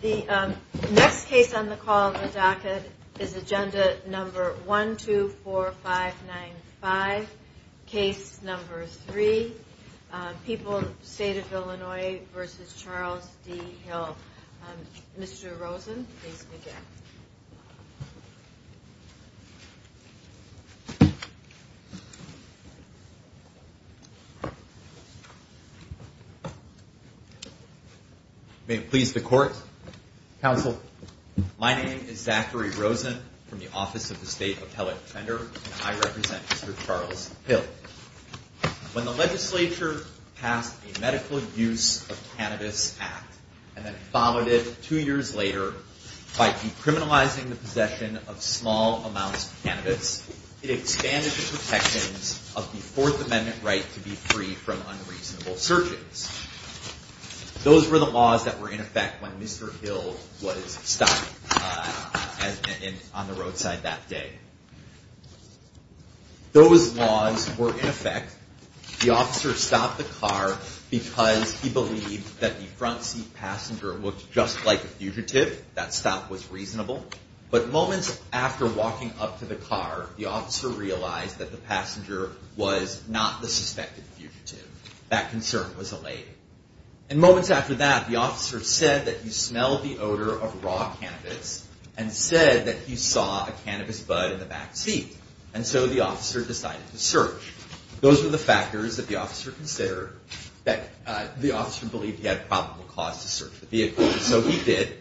The next case on the call of the docket is agenda number 124595, case number three, People, State of Illinois v. Charles D. Hill. Mr. Rosen, please begin. ZACHARY ROSEN May it please the Court, Counsel. My name is Zachary Rosen from the Office of the State Appellate Defender, and I represent Mr. Charles Hill. When the legislature passed the Medical Use of Cannabis Act and then followed it two years later by decriminalizing the possession of small amounts of cannabis, it expanded the protections of the Fourth Amendment right to be free from unreasonable searches. Those were the laws that were in effect when Mr. Hill was stopped on the roadside that day. Those laws were in effect. The officer stopped the car because he believed that the front seat passenger looked just like a fugitive. That stop was reasonable. But moments after walking up to the car, the officer realized that the passenger was not the suspected fugitive. That concern was allayed. And moments after that, the officer said that he smelled the odor of raw cannabis and said that he saw a cannabis bud in the back seat. And so the officer decided to search. Those were the factors that the officer considered, that the officer believed he had probable cause to search the vehicle. And so he did.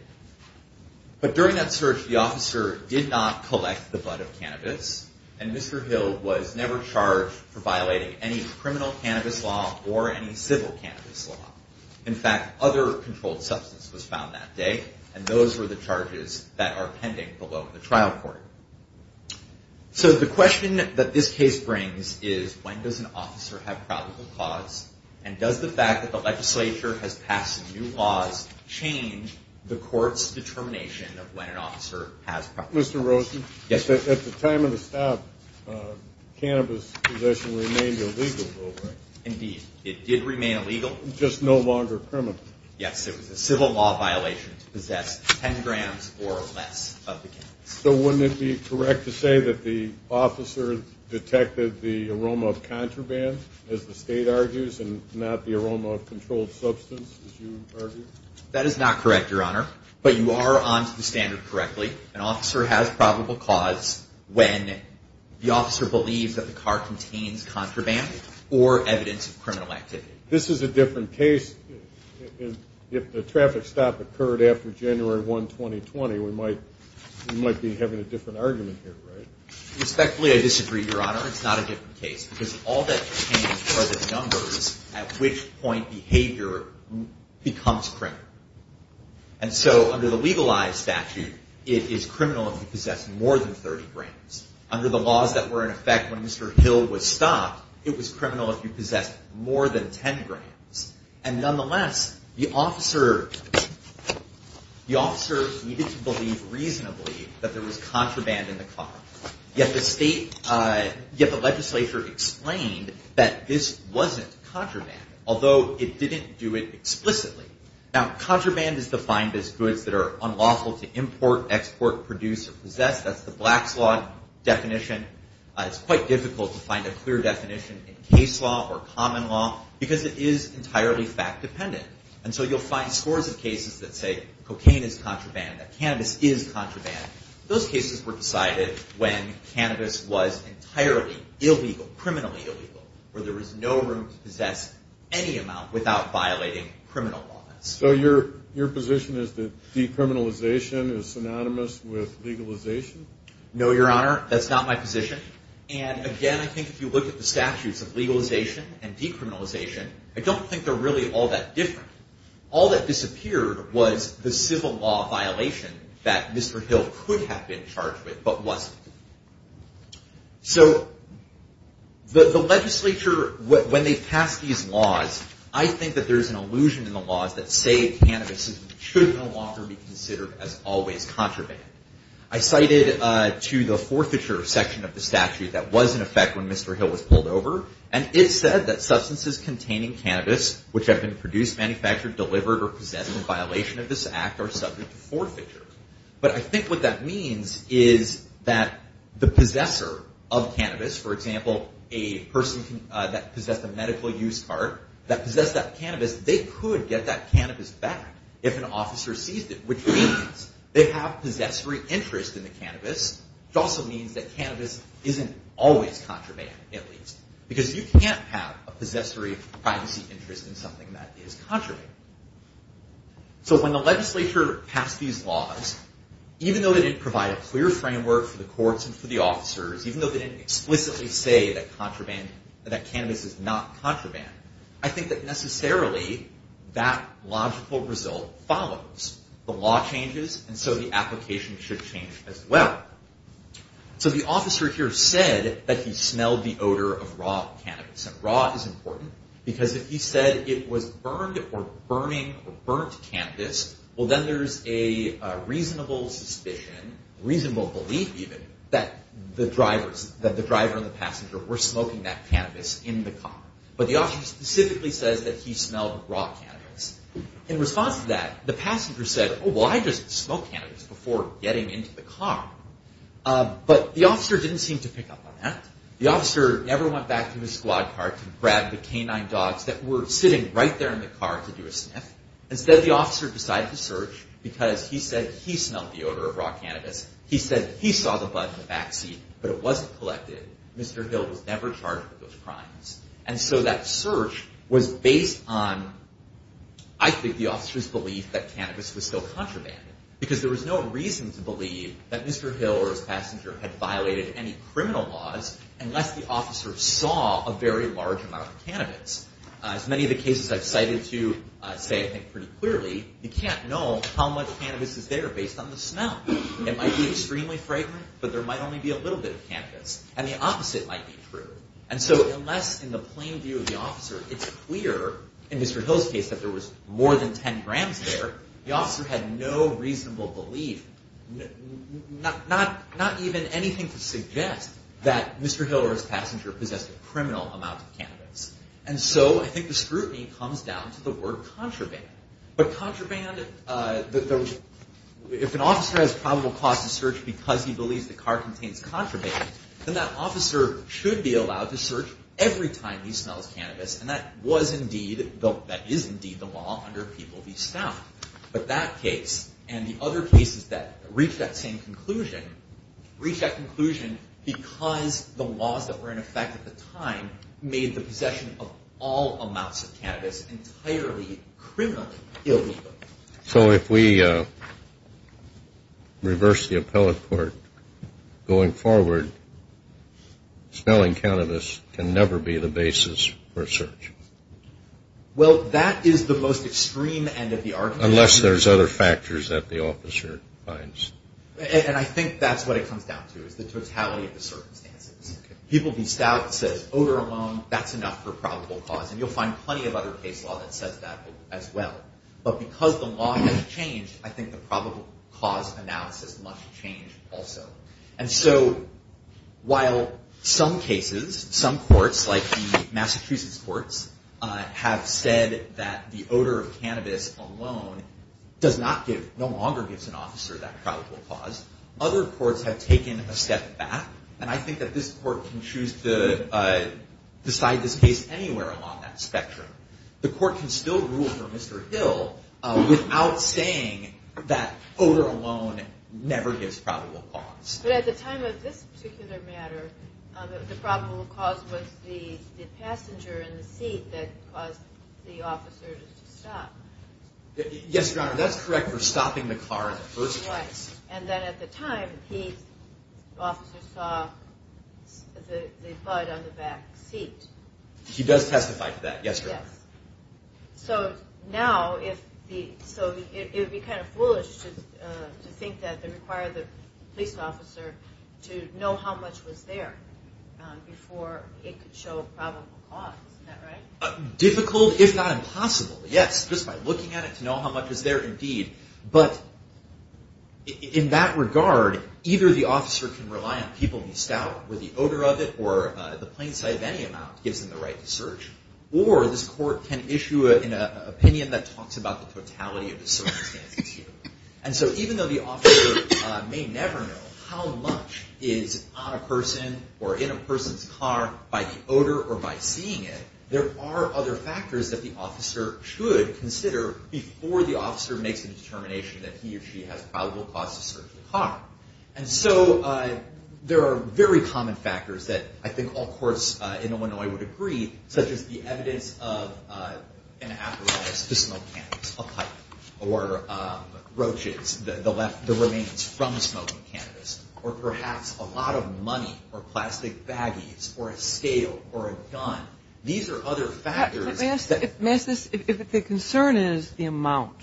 But during that search, the officer did not collect the bud of cannabis, and Mr. Hill was never charged for violating any criminal cannabis law or any civil cannabis law. In fact, other controlled substance was found that day, and those were the charges that are pending below the trial court. So the question that this case brings is, when does an officer have probable cause? And does the fact that the legislature has passed new laws change the court's determination of when an officer has probable cause? Mr. Rosen? Yes, sir. At the time of the stop, cannabis possession remained illegal, correct? Indeed, it did remain illegal. Just no longer criminal. Yes, it was a civil law violation to possess 10 grams or less of the cannabis. So wouldn't it be correct to say that the officer detected the aroma of contraband, as the state argues, and not the aroma of controlled substance, as you argue? That is not correct, Your Honor. But you are on to the standard correctly. An officer has probable cause when the officer believes that the car contains contraband or evidence of criminal activity. This is a different case if the traffic stop occurred after January 1, 2020. We might be having a different argument here, right? Respectfully, I disagree, Your Honor. It's not a different case because all that changed are the numbers at which point behavior becomes criminal. And so under the legalized statute, it is criminal if you possess more than 30 grams. Under the laws that were in effect when Mr. Hill was stopped, it was criminal if you possessed more than 10 grams. And nonetheless, the officer needed to believe reasonably that there was contraband in the car. Yet the legislature explained that this wasn't contraband, although it didn't do it explicitly. Now, contraband is defined as goods that are unlawful to import, export, produce, or possess. That's the Black's Law definition. It's quite difficult to find a clear definition in case law or common law because it is entirely fact-dependent. And so you'll find scores of cases that say cocaine is contraband, that cannabis is contraband. Those cases were decided when cannabis was entirely illegal, criminally illegal, where there was no room to possess any amount without violating criminal laws. So your position is that decriminalization is synonymous with legalization? No, Your Honor, that's not my position. And again, I think if you look at the statutes of legalization and decriminalization, I don't think they're really all that different. All that disappeared was the civil law violation that Mr. Hill could have been charged with but wasn't. So the legislature, when they passed these laws, I think that there's an illusion in the laws that say cannabis should no longer be considered as always contraband. I cited to the forfeiture section of the statute that was in effect when Mr. Hill was pulled over, and it said that substances containing cannabis which have been produced, manufactured, delivered, or possessed in violation of this act are subject to forfeiture. But I think what that means is that the possessor of cannabis, for example, a person that possessed a medical use cart, that possessed that cannabis, they could get that cannabis back if an officer seized it, which means they have possessory interest in the cannabis. It also means that cannabis isn't always contraband, at least. Because you can't have a possessory privacy interest in something that is contraband. So when the legislature passed these laws, even though they didn't provide a clear framework for the courts and for the officers, even though they didn't explicitly say that cannabis is not contraband, I think that necessarily that logical result follows. The law changes and so the application should change as well. So the officer here said that he smelled the odor of raw cannabis. Raw is important because if he said it was burned or burning or burnt cannabis, well then there's a reasonable suspicion, reasonable belief even, that the driver and the passenger were smoking that cannabis in the car. But the officer specifically says that he smelled raw cannabis. In response to that, the passenger said, oh, well I just smoke cannabis before getting into the car. But the officer didn't seem to pick up on that. The officer never went back to his squad car to grab the canine dogs that were sitting right there in the car to do a sniff. Instead the officer decided to search because he said he smelled the odor of raw cannabis. He said he saw the bud in the backseat, but it wasn't collected. Mr. Hill was never charged with those crimes. And so that search was based on, I think, the officer's belief that cannabis was still contraband. Because there was no reason to believe that Mr. Hill or his passenger had violated any criminal laws unless the officer saw a very large amount of cannabis. As many of the cases I've cited to say, I think, pretty clearly, you can't know how much cannabis is there based on the smell. It might be extremely fragrant, but there might only be a little bit of cannabis. And the opposite might be true. And so unless in the plain view of the officer it's clear, in Mr. Hill's case, that there was more than 10 grams there, the officer had no reasonable belief, not even anything to suggest that Mr. Hill or his passenger possessed a criminal amount of cannabis. And so I think the scrutiny comes down to the word contraband. But contraband, if an officer has probable cause to search because he believes the car contains contraband, then that officer should be allowed to search every time he smells cannabis. And that is indeed the law under People v. Stout. But that case and the other cases that reach that same conclusion, reach that conclusion because the laws that were in effect at the time made the possession of all amounts of cannabis entirely criminally illegal. So if we reverse the appellate court going forward, smelling cannabis can never be the basis for a search? Well, that is the most extreme end of the argument. Unless there's other factors that the officer finds. And I think that's what it comes down to is the totality of the circumstances. People v. Stout says odor alone, that's enough for probable cause. And you'll find plenty of other case law that says that as well. But because the law has changed, I think the probable cause analysis must change also. And so while some cases, some courts like the Massachusetts courts, have said that the odor of cannabis alone does not give, no longer gives an officer that probable cause, other courts have taken a step back. And I think that this court can choose to decide this case anywhere along that spectrum. The court can still rule for Mr. Hill without saying that odor alone never gives probable cause. But at the time of this particular matter, the probable cause was the passenger in the seat that caused the officer to stop. Yes, Your Honor, that's correct for stopping the car in the first place. And then at the time, the officer saw the bud on the back seat. He does testify to that, yes, Your Honor. So now if the, so it would be kind of foolish to think that they require the police officer to know how much was there before it could show probable cause, isn't that right? Difficult, if not impossible, yes, just by looking at it to know how much is there indeed. But in that regard, either the officer can rely on people in Stout with the odor of it or the plain sight of any amount gives them the right to search. Or this court can issue an opinion that talks about the totality of the circumstances here. And so even though the officer may never know how much is on a person or in a person's car by the odor or by seeing it, there are other factors that the officer should consider before the officer makes a determination that he or she has probable cause to search the car. And so there are very common factors that I think all courts in Illinois would agree, such as the evidence of an apparatus to smoke cannabis, a pipe, or roaches, the remains from smoking cannabis, or perhaps a lot of money or plastic baggies or a scale or a gun. These are other factors. If the concern is the amount,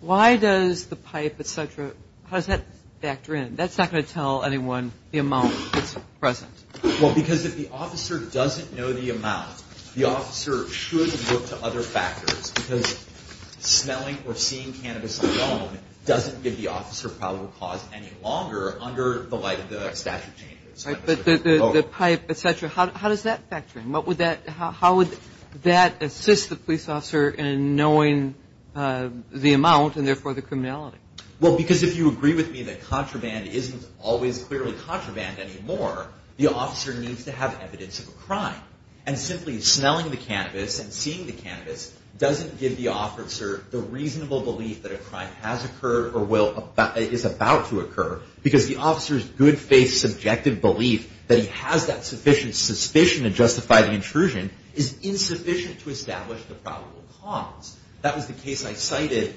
why does the pipe, et cetera, how does that factor in? That's not going to tell anyone the amount that's present. Well, because if the officer doesn't know the amount, the officer should look to other factors because smelling or seeing cannabis alone doesn't give the officer probable cause any longer under the light of the statute changes. Right, but the pipe, et cetera, how does that factor in? How would that assist the police officer in knowing the amount and therefore the criminality? Well, because if you agree with me that contraband isn't always clearly contraband anymore, the officer needs to have evidence of a crime. And simply smelling the cannabis and seeing the cannabis doesn't give the officer the reasonable belief that a crime has occurred or is about to occur because the officer's good faith subjective belief that he has that sufficient suspicion to justify the intrusion is insufficient to establish the probable cause. That was the case I cited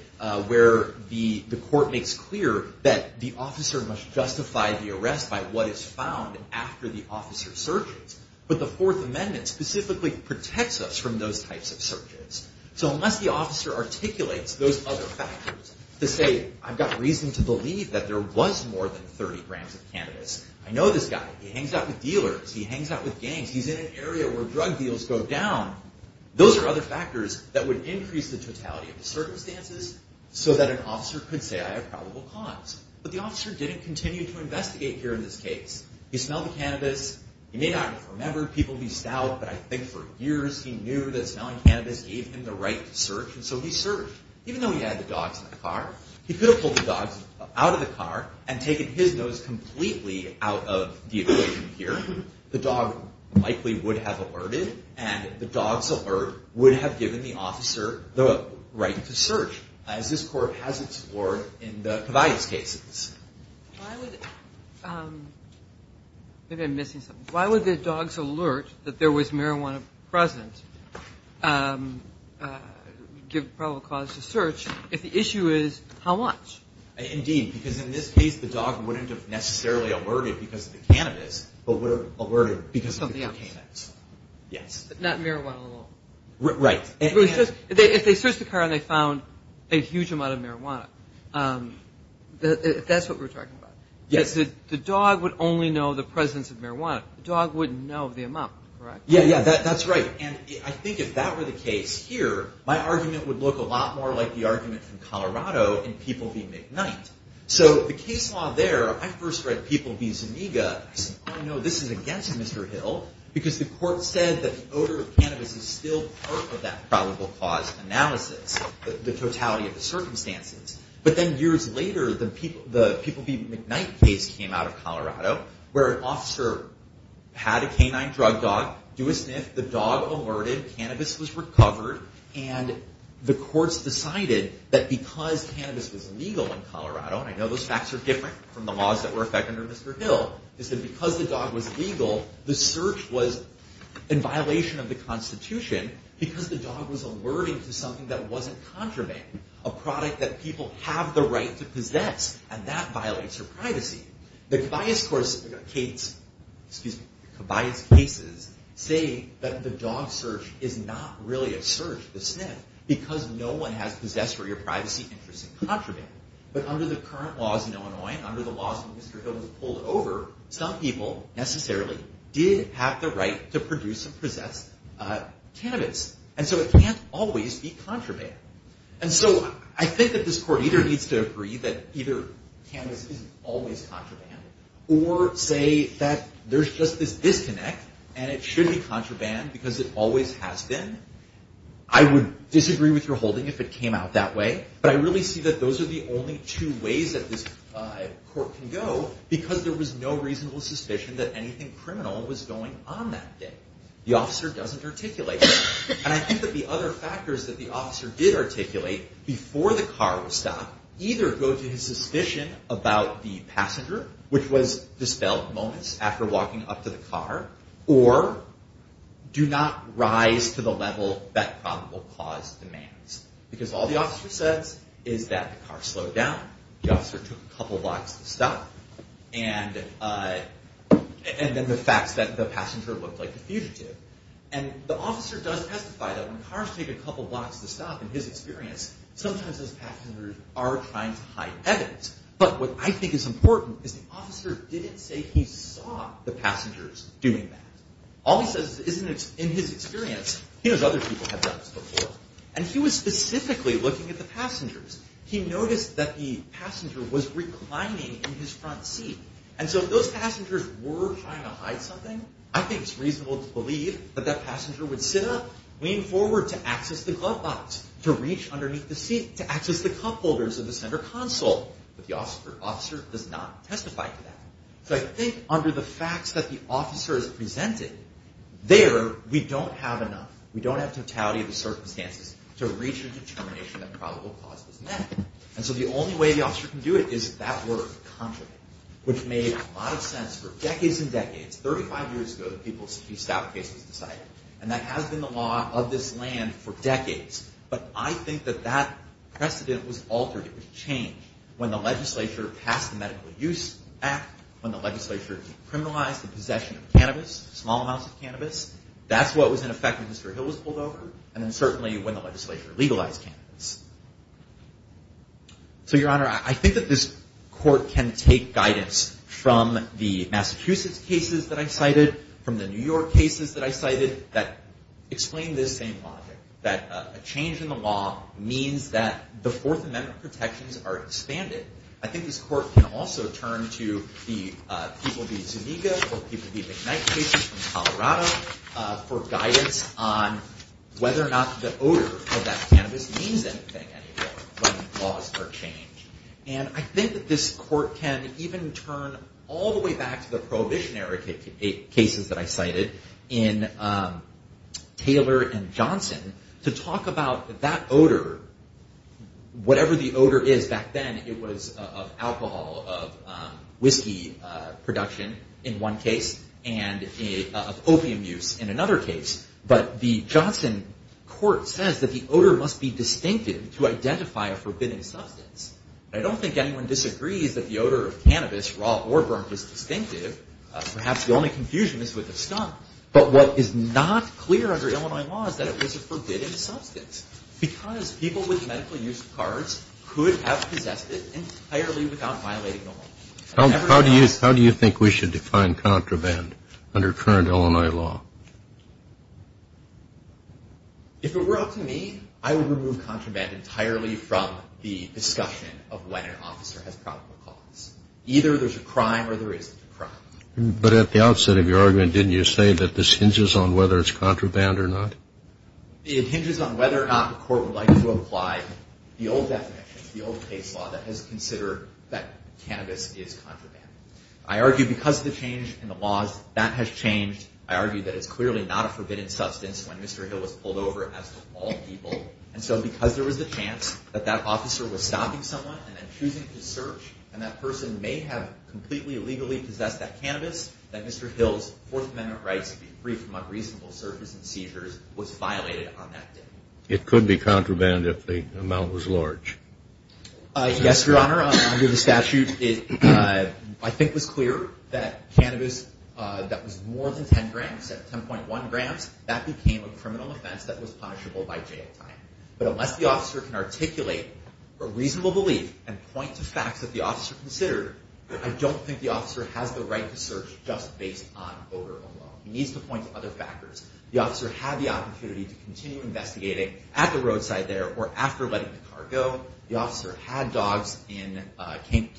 where the court makes clear that the officer must justify the arrest by what is found after the officer searches. But the Fourth Amendment specifically protects us from those types of searches. So unless the officer articulates those other factors to say, I've got reason to believe that there was more than 30 grams of cannabis, I know this guy, he hangs out with dealers, he hangs out with gangs, he's in an area where drug deals go down, those are other factors that would increase the totality of the circumstances so that an officer could say I have probable cause. But the officer didn't continue to investigate here in this case. He smelled the cannabis. He may not have remembered people he stalled, but I think for years he knew that smelling cannabis gave him the right to search, and so he searched. Even though he had the dogs in the car, he could have pulled the dogs out of the car and taken his nose completely out of the equation here. The dog likely would have alerted, and the dog's alert would have given the officer the right to search, as this Court has explored in the Cavia's cases. Why would the dog's alert that there was marijuana present give probable cause to search if the issue is how much? Indeed, because in this case the dog wouldn't have necessarily alerted because of the cannabis, but would have alerted because of the cannabis. Something else. Yes. Not marijuana alone. Right. If they searched the car and they found a huge amount of marijuana, that's what we're talking about. Yes. The dog would only know the presence of marijuana. The dog wouldn't know the amount, correct? Yes, that's right. I think if that were the case here, my argument would look a lot more like the argument from Colorado in People v. McKnight. The case law there, I first read People v. Zuniga. I said, oh, no, this is against Mr. Hill, because the Court said that the odor of cannabis is still part of that probable cause analysis, the totality of the circumstances. But then years later, the People v. McKnight case came out of Colorado, where an officer had a canine drug dog do a sniff. The dog alerted. The cannabis was recovered. And the courts decided that because cannabis was legal in Colorado, and I know those facts are different from the laws that were effected under Mr. Hill, is that because the dog was legal, the search was in violation of the Constitution because the dog was alerting to something that wasn't contraband, a product that people have the right to possess. And that violates her privacy. The Kibayas cases say that the dog search is not really a search, the sniff, because no one has possessory or privacy interests in contraband. But under the current laws in Illinois and under the laws that Mr. Hill has pulled over, some people necessarily did have the right to produce and possess cannabis. And so it can't always be contraband. And so I think that this court either needs to agree that either cannabis isn't always contraband or say that there's just this disconnect and it should be contraband because it always has been. I would disagree with your holding if it came out that way, but I really see that those are the only two ways that this court can go because there was no reasonable suspicion that anything criminal was going on that day. The officer doesn't articulate that. And I think that the other factors that the officer did articulate before the car was stopped either go to his suspicion about the passenger, which was dispelled moments after walking up to the car, or do not rise to the level that probable cause demands. Because all the officer says is that the car slowed down, the officer took a couple blocks to stop, and then the fact that the passenger looked like a fugitive. And the officer does testify that when cars take a couple blocks to stop, in his experience, sometimes those passengers are trying to hide evidence. But what I think is important is the officer didn't say he saw the passengers doing that. All he says is in his experience, he knows other people have done this before, and he was specifically looking at the passengers. He noticed that the passenger was reclining in his front seat. And so if those passengers were trying to hide something, I think it's reasonable to believe that that passenger would sit up, lean forward to access the glove box, to reach underneath the seat, to access the cup holders of the center console. But the officer does not testify to that. So I think under the facts that the officer has presented, there we don't have enough, we don't have totality of the circumstances to reach a determination that probable cause is met. And so the only way the officer can do it is that word, contravent, which made a lot of sense for decades and decades. Thirty-five years ago, the people's case was decided. And that has been the law of this land for decades. But I think that that precedent was altered. It was changed when the legislature passed the Medical Use Act, when the legislature decriminalized the possession of cannabis, small amounts of cannabis. That's what was in effect when Mr. Hill was pulled over, and then certainly when the legislature legalized cannabis. So, Your Honor, I think that this court can take guidance from the Massachusetts cases that I cited, from the New York cases that I cited, that explain this same logic, that a change in the law means that the Fourth Amendment protections are expanded. I think this court can also turn to the people v. Zuniga or people v. McKnight cases from Colorado for guidance on whether or not the odor of that cannabis means anything. Laws are changed. And I think that this court can even turn all the way back to the prohibitionary cases that I cited in Taylor and Johnson to talk about that odor, whatever the odor is. Back then, it was of alcohol, of whiskey production in one case, and of opium use in another case. But the Johnson court says that the odor must be distinctive to identify a forbidding substance. And I don't think anyone disagrees that the odor of cannabis, raw or burnt, is distinctive. Perhaps the only confusion is with the stunt. But what is not clear under Illinois law is that it was a forbidding substance because people with medical-use cards could have possessed it entirely without violating the law. How do you think we should define contraband under current Illinois law? If it were up to me, I would remove contraband entirely from the discussion of when an officer has probable cause. Either there's a crime or there isn't a crime. But at the outset of your argument, didn't you say that this hinges on whether it's contraband or not? It hinges on whether or not the court would like to apply the old definition, the old case law that has considered that cannabis is contraband. I argue because of the change in the laws, that has changed. I argue that it's clearly not a forbidden substance when Mr. Hill was pulled over, as did all people. And so because there was a chance that that officer was stopping someone and then choosing to search, and that person may have completely illegally possessed that cannabis, that Mr. Hill's Fourth Amendment rights to be free from unreasonable searches and seizures was violated on that day. It could be contraband if the amount was large. Yes, Your Honor. Under the statute, I think it was clear that cannabis that was more than 10 grams, 10.1 grams, that became a criminal offense that was punishable by jail time. But unless the officer can articulate a reasonable belief and point to facts that the officer considered, I don't think the officer has the right to search just based on odor alone. He needs to point to other factors. The officer had the opportunity to continue investigating at the roadside there or after letting the car go. The officer had dogs and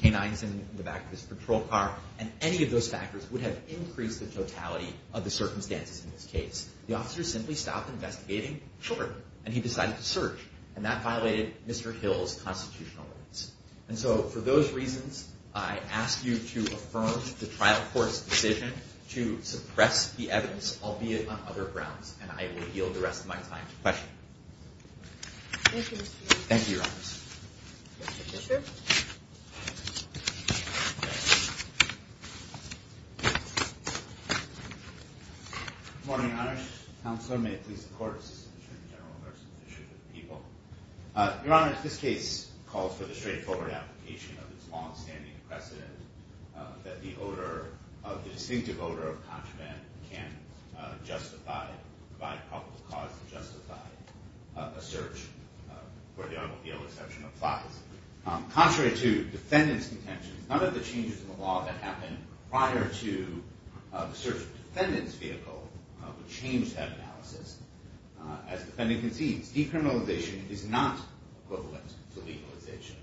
canines in the back of his patrol car. And any of those factors would have increased the totality of the circumstances in this case. The officer simply stopped investigating. Sure. And he decided to search. And that violated Mr. Hill's constitutional rights. And so for those reasons, I ask you to affirm the trial court's decision to suppress the evidence, albeit on other grounds. And I will yield the rest of my time to questions. Thank you, Mr. Fisher. Thank you, Your Honor. Mr. Fisher. Good morning, Your Honor. Counselor, may it please the Court, Assistant Attorney General, Marcia Fisher of the People. Your Honor, this case calls for the straightforward application of this distinctive odor of contraband can provide probable cause to justify a search where the automobile exception applies. Contrary to defendant's intentions, none of the changes in the law that happened prior to the search of the defendant's vehicle would change that analysis. As the defendant concedes, decriminalization is not equivalent to legalization.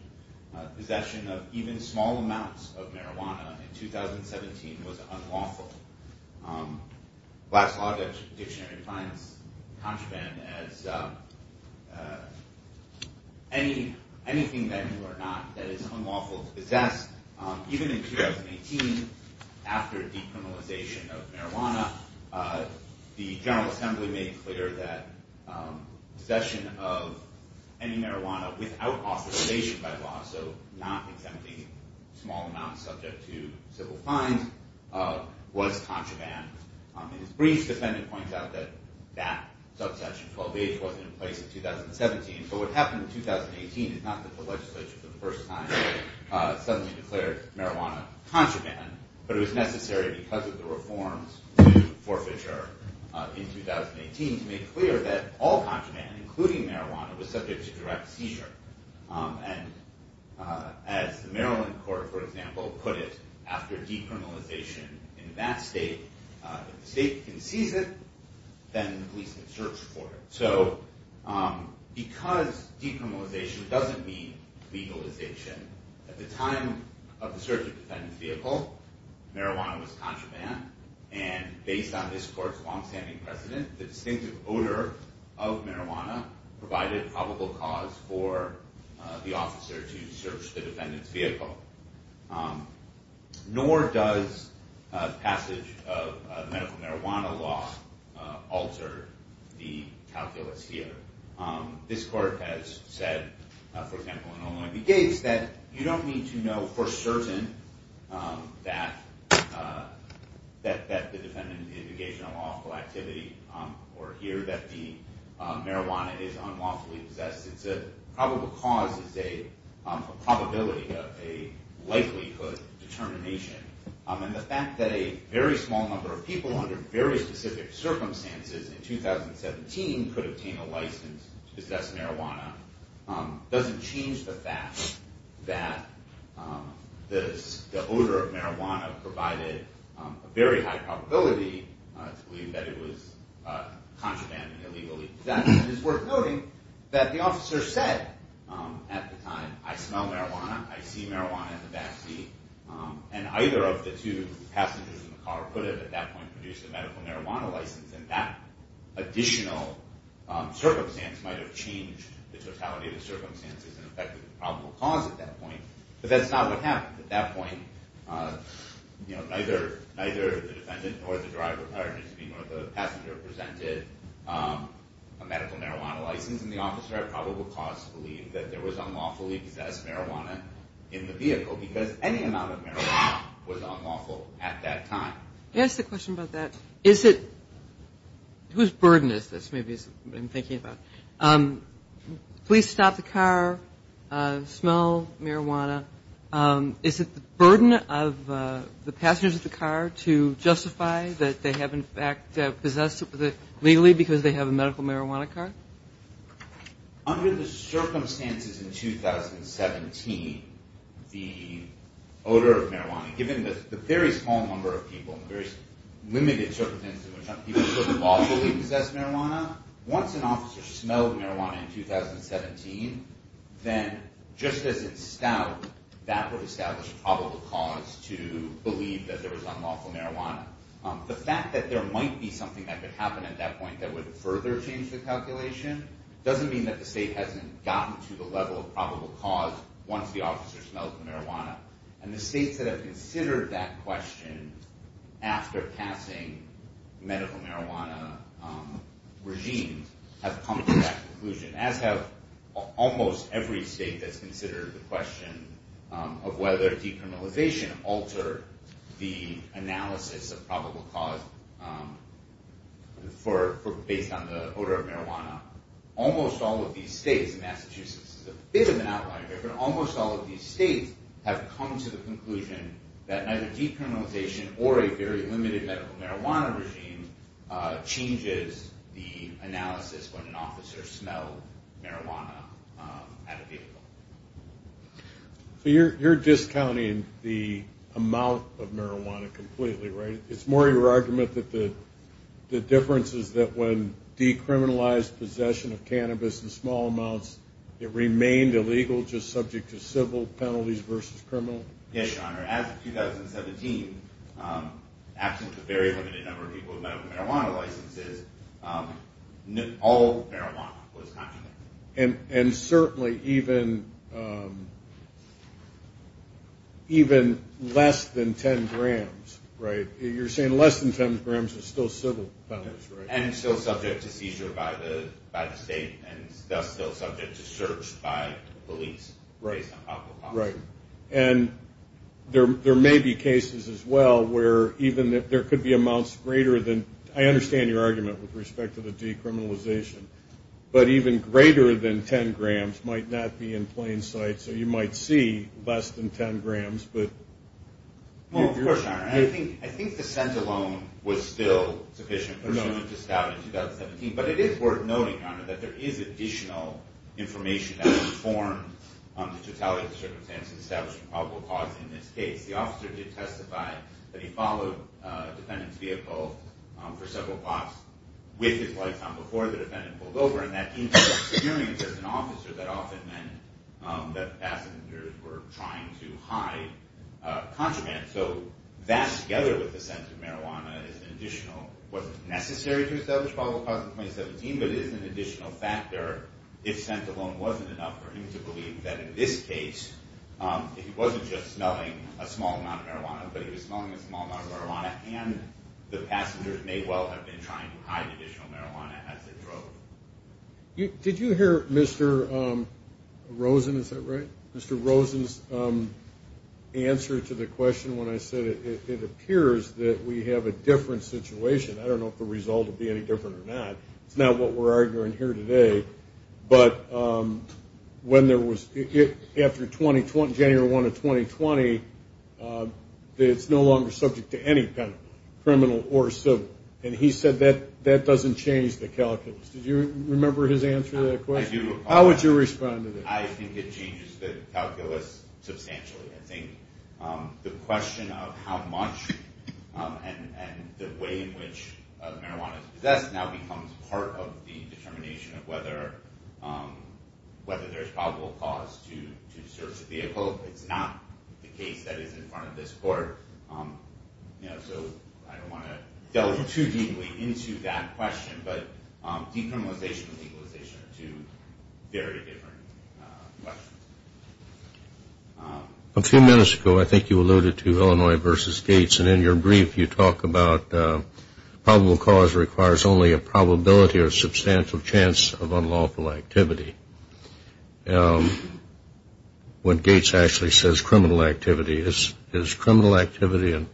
Possession of even small amounts of marijuana in 2017 was unlawful. Black's Law Dictionary finds contraband as anything that you are not that is unlawful to possess. Even in 2018, after decriminalization of marijuana, the General Assembly made clear that possession of any marijuana without authorization by law, so not exempting small amounts subject to civil fines, was contraband. In his brief, the defendant points out that that subsection, 12H, wasn't in place in 2017. But what happened in 2018 is not that the legislature for the first time suddenly declared marijuana contraband, but it was necessary because of the all contraband, including marijuana, was subject to direct seizure. As the Maryland court, for example, put it, after decriminalization in that state, if the state concedes it, then the police can search for it. Because decriminalization doesn't mean legalization, at the time of the search of the defendant's vehicle, marijuana was contraband. And based on this court's longstanding precedent, the distinctive odor of marijuana provided probable cause for the officer to search the defendant's vehicle. Nor does passage of medical marijuana law alter the calculus here. This court has said, for example, in Oloyndi Gates, that you don't need to know for certain that the defendant in the indication of lawful activity, or here, that the marijuana is unlawfully possessed. It's a probable cause, it's a probability of a likelihood determination. And the fact that a very small number of people under very specific circumstances in 2017 could obtain a license to possess marijuana doesn't change the fact that the odor of marijuana provided a very high probability to believe that it was contraband and illegal. That is worth noting, that the officer said, at the time, I smell marijuana, I see marijuana in the back seat. And either of the two passengers in the car could have, at that point, produced a medical marijuana license. And that additional circumstance might have changed the totality of the circumstances and affected the probable cause at that point. But that's not what happened. At that point, neither the defendant or the driver, pardon me, nor the passenger presented a medical marijuana license. And the officer, at probable cause, believed that there was unlawfully possessed marijuana in the vehicle because any amount of marijuana was unlawful at that time. Can I ask a question about that? Whose burden is this, maybe, is what I'm thinking about? Police stop the car, smell marijuana. Is it the burden of the passengers of the car to justify that they have, in fact, possessed it legally because they have a medical marijuana card? Under the circumstances in 2017, the odor of marijuana, given the very small number of people, very limited circumstances, where some people could have lawfully possessed marijuana, once an officer smelled marijuana in 2017, then just as in stout, that would establish a probable cause to believe that there was unlawful marijuana. The fact that there might be something that could happen at that point that would further change the calculation doesn't mean that the state hasn't gotten to the level of probable cause once the officer smells the marijuana. And the states that have considered that question after passing medical marijuana regimes have come to that conclusion, as have almost every state that's considered the question of whether decriminalization altered the analysis of probable cause based on the odor of marijuana. Almost all of these states, Massachusetts is a bit of an outlier here, but almost all of these states have come to the conclusion that either decriminalization or a very limited medical marijuana regime changes the analysis when an officer smelled marijuana at a vehicle. So you're discounting the amount of marijuana completely, right? It's more your argument that the difference is that when decriminalized possession of cannabis in small amounts, it remained illegal, just subject to civil penalties versus criminal? Yes, Your Honor. As of 2017, absent a very limited number of people with medical marijuana licenses, all marijuana was confiscated. And certainly even less than 10 grams, right? You're saying less than 10 grams is still civil penalties, right? And still subject to seizure by the state, and thus still subject to search by police based on probable cause. Right. And there may be cases as well where even if there could be amounts greater than – I understand your argument with respect to the decriminalization, but even greater than 10 grams might not be in plain sight, so you might see less than 10 grams. Well, of course, Your Honor. I think the scent alone was still sufficient for someone to scout in 2017, but it is worth noting, Your Honor, that there is additional information that would inform the totality of the circumstances established in probable cause in this case. The officer did testify that he followed a defendant's vehicle for several blocks with his lights on before the defendant pulled over, and that increased experience as an officer that often meant that passengers were trying to hide contraband. So that, together with the scent of marijuana, is an additional – wasn't necessary to establish probable cause in 2017, but is an additional factor if scent alone wasn't enough for him to believe that in this case he wasn't just smelling a small amount of marijuana, but he was smelling a small amount of marijuana, and the passengers may well have been trying to hide additional marijuana as they drove. Did you hear Mr. Rosen – is that right? Mr. Rosen's answer to the question when I said it appears that we have a different situation. I don't know if the result will be any different or not. It's not what we're arguing here today. But when there was – after January 1 of 2020, it's no longer subject to any kind of criminal or civil. And he said that that doesn't change the calculus. Did you remember his answer to that question? I do. How would you respond to that? I think it changes the calculus substantially. I think the question of how much and the way in which marijuana is possessed now becomes part of the determination of whether there's probable cause to search the vehicle. It's not the case that is in front of this court, so I don't want to delve too deeply into that question. But decriminalization and legalization are two very different questions. A few minutes ago I think you alluded to Illinois versus Gates, and in your brief you talk about probable cause requires only a probability or substantial chance of unlawful activity. When Gates actually says criminal activity, is criminal activity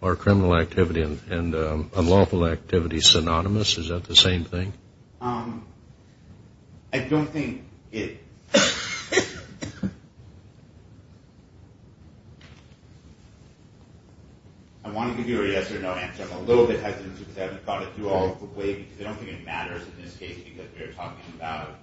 or criminal activity and unlawful activity synonymous? Is that the same thing? I don't think it is. I want to give you a yes or no answer. I'm a little bit hesitant because I haven't thought it through all the way because I don't think it matters in this case because we are talking about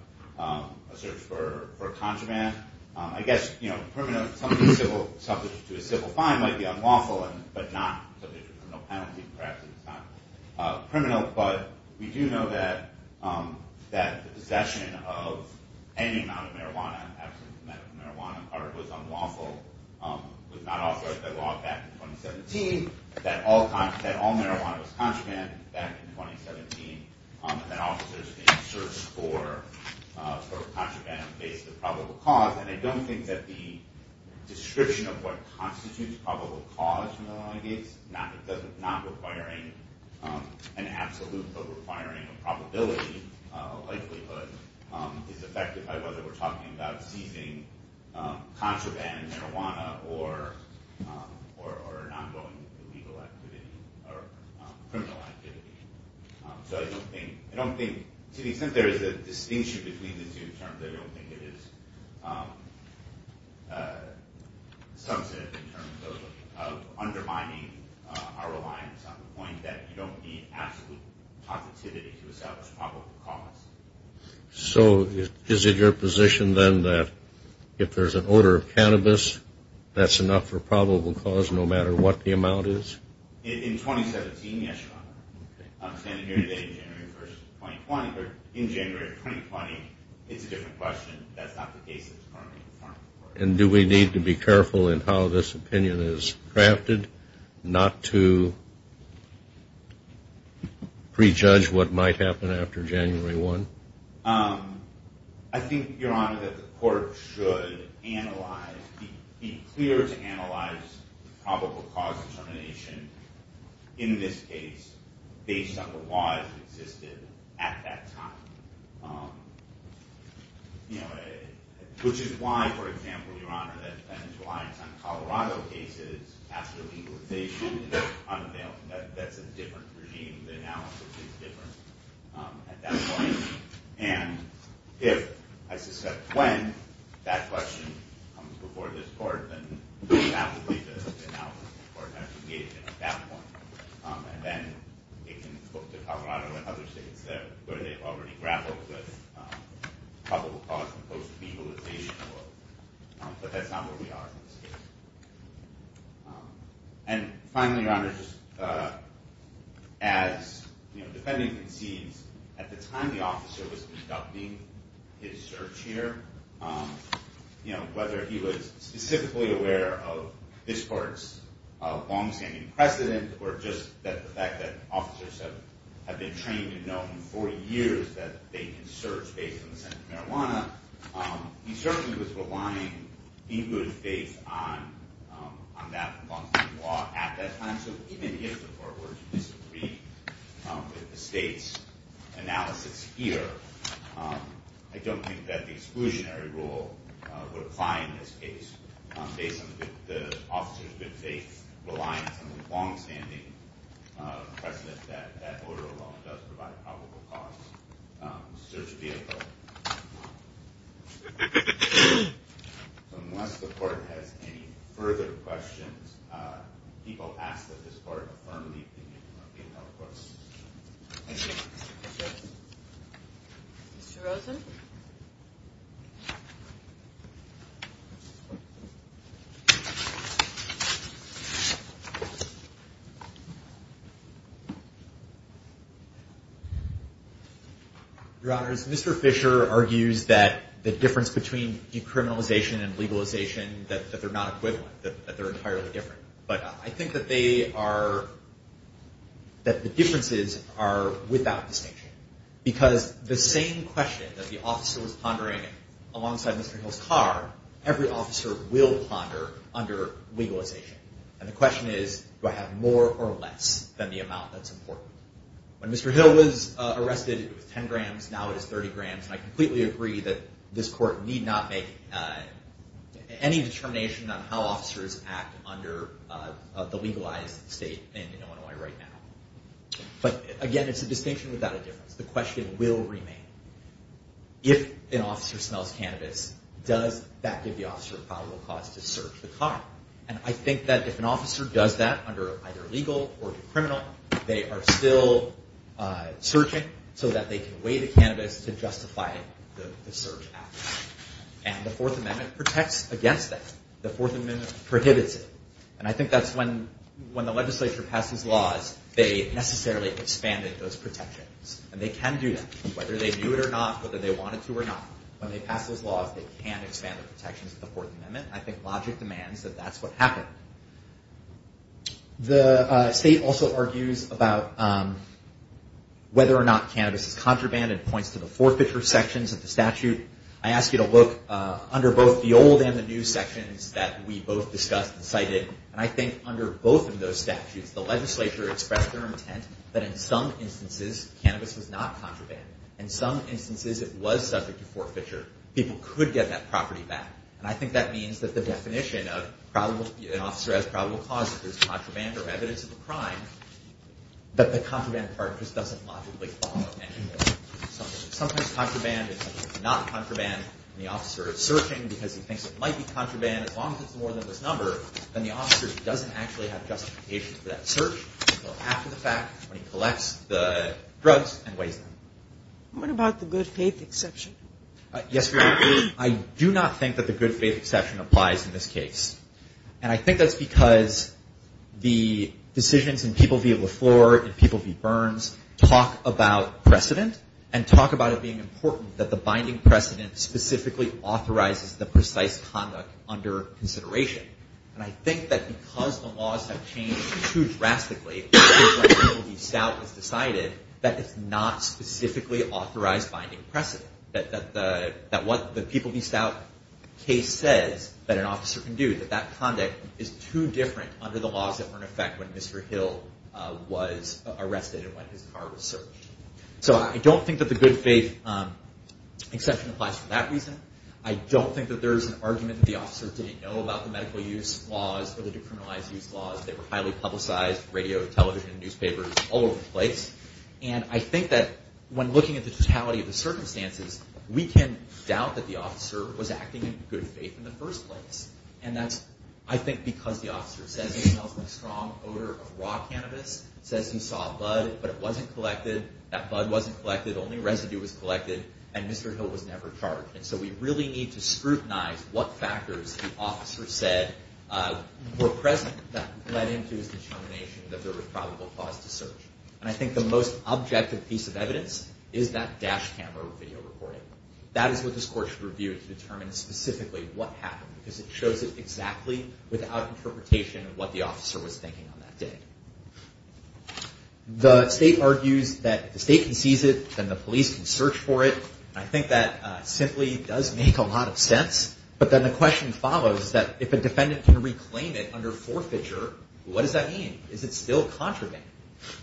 a search for a contraband. I guess, you know, criminal, something subject to a civil fine might be unlawful but not subject to criminal penalty. Perhaps it's not criminal, but we do know that possession of any amount of marijuana, absolute amount of marijuana was unlawful, was not authorized by law back in 2017, that all marijuana was contraband back in 2017, and that officers may search for contraband based on probable cause. And I don't think that the description of what constitutes probable cause in the long case, not requiring an absolute, but requiring a probability likelihood is affected by whether we're talking about seizing contraband, marijuana, or an ongoing illegal activity or criminal activity. So I don't think, to the extent there is a distinction between the two terms, I don't think it is substantive in terms of undermining our reliance on the point that you don't need absolute positivity to establish probable cause. So is it your position then that if there's an odor of cannabis, that's enough for probable cause no matter what the amount is? In 2017, yes, Your Honor. I'm standing here today in January 1st, 2020, but in January 2020, it's a different question. That's not the case. And do we need to be careful in how this opinion is crafted, not to prejudge what might happen after January 1? I think, Your Honor, that the court should analyze, be clear to analyze probable cause determination in this case based on the evidence that hasn't existed at that time, which is why, for example, Your Honor, that there's reliance on Colorado cases after legalization. That's a different regime. The analysis is different at that point. And if I suspect when that question comes before this court, then that would be the analysis the court has to give at that point. And then it can look to Colorado and other states where they've already grappled with probable cause and post-legalization. But that's not where we are in this case. And finally, Your Honor, as the defendant concedes, at the time the officer was conducting his search here, whether he was specifically aware of this court's longstanding precedent or just the fact that officers have been trained and known for years that they can search based on the scent of marijuana, he certainly was relying in good faith on that law at that time. So even if the court were to disagree with the state's analysis here, I don't think that the exclusionary rule would apply in this case based on the officer's good faith, reliance on the longstanding precedent that that order alone does provide a probable cause search vehicle. So unless the court has any further questions, people ask that this court affirm the opinion of the appeal court. Mr. Rosen? Your Honors, Mr. Fisher argues that the difference between decriminalization and legalization, that they're not equivalent, that they're entirely different. But I think that they are, that the differences are without distinction. Because the same question that the officer was pondering alongside Mr. Hill's car, every officer will ponder under legalization. And the question is, do I have more or less than the amount that's important? When Mr. Hill was arrested, it was 10 grams, now it is 30 grams. And I completely agree that this court need not make any determination on how officers act under the legalized state in Illinois right now. But again, it's a distinction without a difference. The question will remain, if an officer smells cannabis, does that give the officer a probable cause to search the car? And I think that if an officer does that under either legal or criminal, they are still searching so that they can weigh the cannabis to justify the search act. And the Fourth Amendment protects against that. The Fourth Amendment prohibits it. And I think that's when the legislature passes laws, they necessarily expanded those protections. And they can do that, whether they do it or not, whether they wanted to or not. When they pass those laws, they can expand the protections of the Fourth Amendment. I think logic demands that that's what happened. The state also argues about whether or not cannabis is contraband and points to the forfeiture sections of the statute. I ask you to look under both the old and the new sections that we both discussed and cited. And I think under both of those statutes, the legislature expressed their intent that in some instances, cannabis was not contraband. In some instances, it was subject to forfeiture. People could get that property back. And I think that means that the definition of an officer has probable cause if there's contraband or evidence of a crime, that the contraband part just doesn't logically follow anymore. Sometimes contraband and sometimes not contraband, and the officer is searching because he thinks it might be contraband as long as it's more than this number, then the officer doesn't actually have justification for that search until after the fact when he collects the drugs and weighs them. What about the good faith exception? Yes, I do not think that the good faith exception applies in this case. And I think that's because the decisions in People v. Lafleur and People v. Burns talk about precedent and talk about it being important that the binding precedent specifically authorizes the precise conduct under consideration. And I think that because the laws have changed too drastically, People v. Stout has decided that it's not specifically authorized binding precedent, that what the People v. Stout case says that an officer can do, that that conduct is too different under the laws that were in effect when Mr. Hill was arrested and when his car was searched. So I don't think that the good faith exception applies for that reason. I don't think that there's an argument that the officers didn't know about the medical use laws or the decriminalized use laws. They were highly publicized, radio, television, newspapers, all over the place. And I think that when looking at the totality of the circumstances, we can doubt that the officer was acting in good faith in the first place. And that's, I think, because the officer says he smells a strong odor of raw cannabis, says he saw a bud, but it wasn't collected, that bud wasn't collected, only residue was collected, and Mr. Hill was never charged. And so we really need to scrutinize what factors the officer said were present that led him to his determination that there was probable cause to search. And I think the most objective piece of evidence is that dash camera video recording. That is what this court should review to determine specifically what happened, because it shows it exactly without interpretation of what the officer was thinking on that day. The state argues that if the state can seize it, then the police can search for it. And I think that simply does make a lot of sense. But then the question follows that if a defendant can reclaim it under forfeiture, what does that mean? Is it still contraband?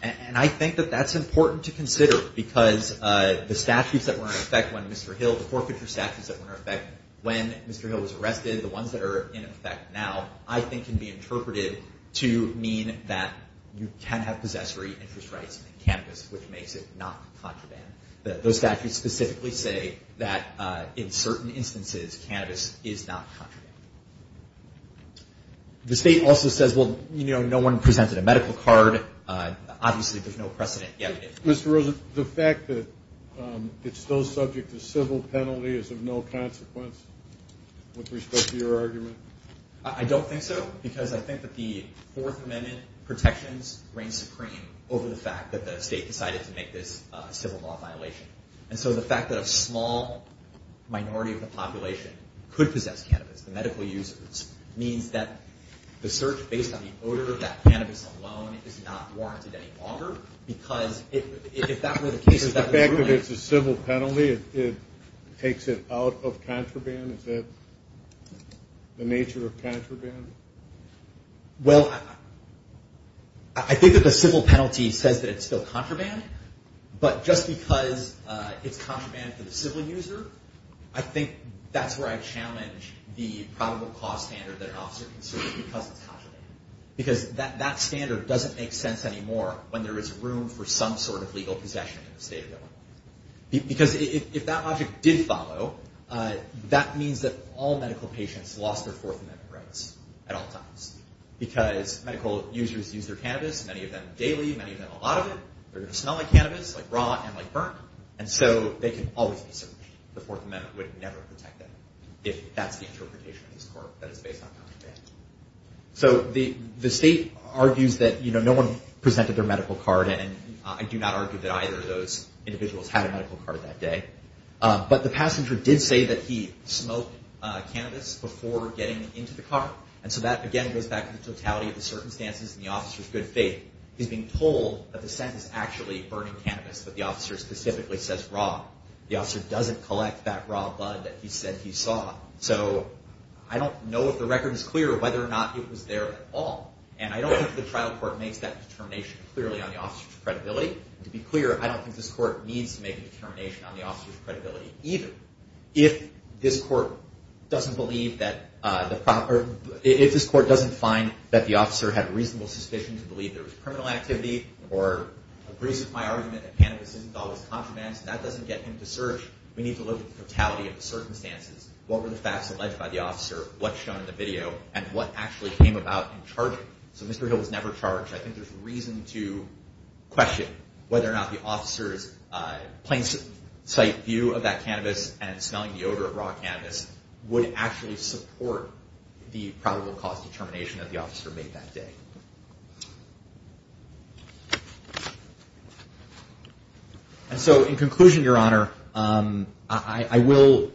And I think that that's important to consider because the statutes that were in effect when Mr. Hill, the forfeiture statutes that were in effect when Mr. Hill was arrested, the ones that are in effect now, I think can be interpreted to mean that you can have possessory interest rights in cannabis, which makes it not contraband. Those statutes specifically say that in certain instances cannabis is not contraband. The state also says, well, you know, no one presented a medical card. Obviously, there's no precedent yet. Mr. Rosen, the fact that it's still subject to civil penalty is of no consequence with respect to your argument? I don't think so, because I think that the Fourth Amendment protections reign supreme over the fact that the state decided to make this a civil law violation. And so the fact that a small minority of the population could possess cannabis, the medical users, means that the search based on the odor of that cannabis alone is not warranted any longer, because if that were the case, that would really – Is the fact that it's a civil penalty, it takes it out of contraband? Is that the nature of contraband? Well, I think that the civil penalty says that it's still contraband, but just because it's contraband for the civil user, I think that's where I challenge the probable cause standard that an officer considers because it's contraband. Because that standard doesn't make sense anymore when there is room for some sort of legal possession in the state of Illinois. Because if that logic did follow, that means that all medical patients lost their Fourth Amendment rights at all times, because medical users use their cannabis, many of them daily, many of them a lot of it, they're going to smell like cannabis, like rot and like burnt, and so they can always be searched. The Fourth Amendment would never protect them if that's the interpretation of this court that it's based on contraband. So the state argues that no one presented their medical card, and I do not argue that either of those individuals had a medical card that day. But the passenger did say that he smoked cannabis before getting into the car, and so that again goes back to the totality of the circumstances and the officer's good faith. He's being told that the scent is actually burning cannabis, but the officer specifically says raw. The officer doesn't collect that raw blood that he said he saw. So I don't know if the record is clear whether or not it was there at all, and I don't think the trial court makes that determination clearly on the officer's credibility. To be clear, I don't think this court needs to make a determination on the officer's credibility either. If this court doesn't find that the officer had reasonable suspicion to believe there was criminal activity or agrees with my argument that cannabis isn't always contraband, that doesn't get him to search. We need to look at the totality of the circumstances, what were the facts alleged by the officer, what's shown in the video, and what actually came about in charging. So Mr. Hill was never charged. I think there's reason to question whether or not the officer's plain sight view of that cannabis and smelling the odor of raw cannabis would actually support the probable cause determination that the officer made that day. And so in conclusion, Your Honor, I will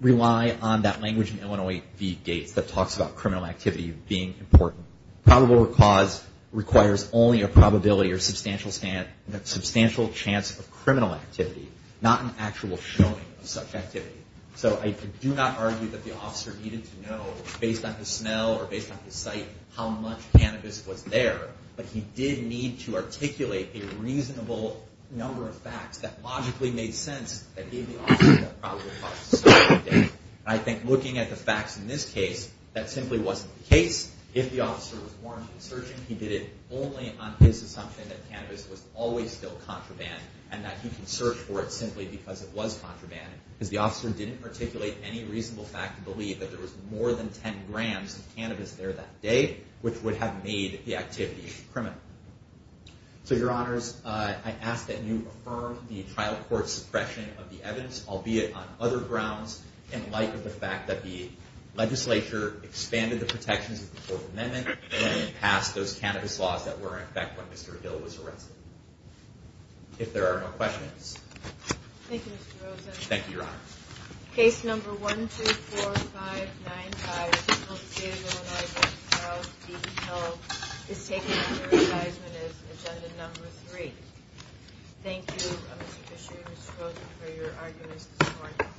rely on that language in Illinois v. Gates that talks about criminal activity being important. Probable cause requires only a probability or substantial chance of criminal activity, not an actual showing of such activity. So I do not argue that the officer needed to know, based on his smell or based on his sight, how much cannabis was there, but he did need to articulate a reasonable number of facts that logically made sense that gave the officer the probable cause to start the day. And I think looking at the facts in this case, that simply wasn't the case. If the officer was warranted in searching, he did it only on his assumption that cannabis was always still contraband and that he can search for it simply because it was contraband, because the officer didn't articulate any reasonable fact to believe that there was more than 10 grams of cannabis there that day, which would have made the activity criminal. So, Your Honors, I ask that you affirm the trial court's suppression of the evidence, albeit on other grounds, in light of the fact that the legislature expanded the protections of the Fourth Amendment and passed those cannabis laws that were in effect when Mr. Hill was arrested. If there are no questions. Thank you, Mr. Rosen. Thank you, Your Honor. Case number 124595, General C.A. Illinois v. Charles D. Hill, is taken under advisement as Agenda Number 3. Thank you, Mr. Fisher and Mr. Rosen, for your arguments this morning.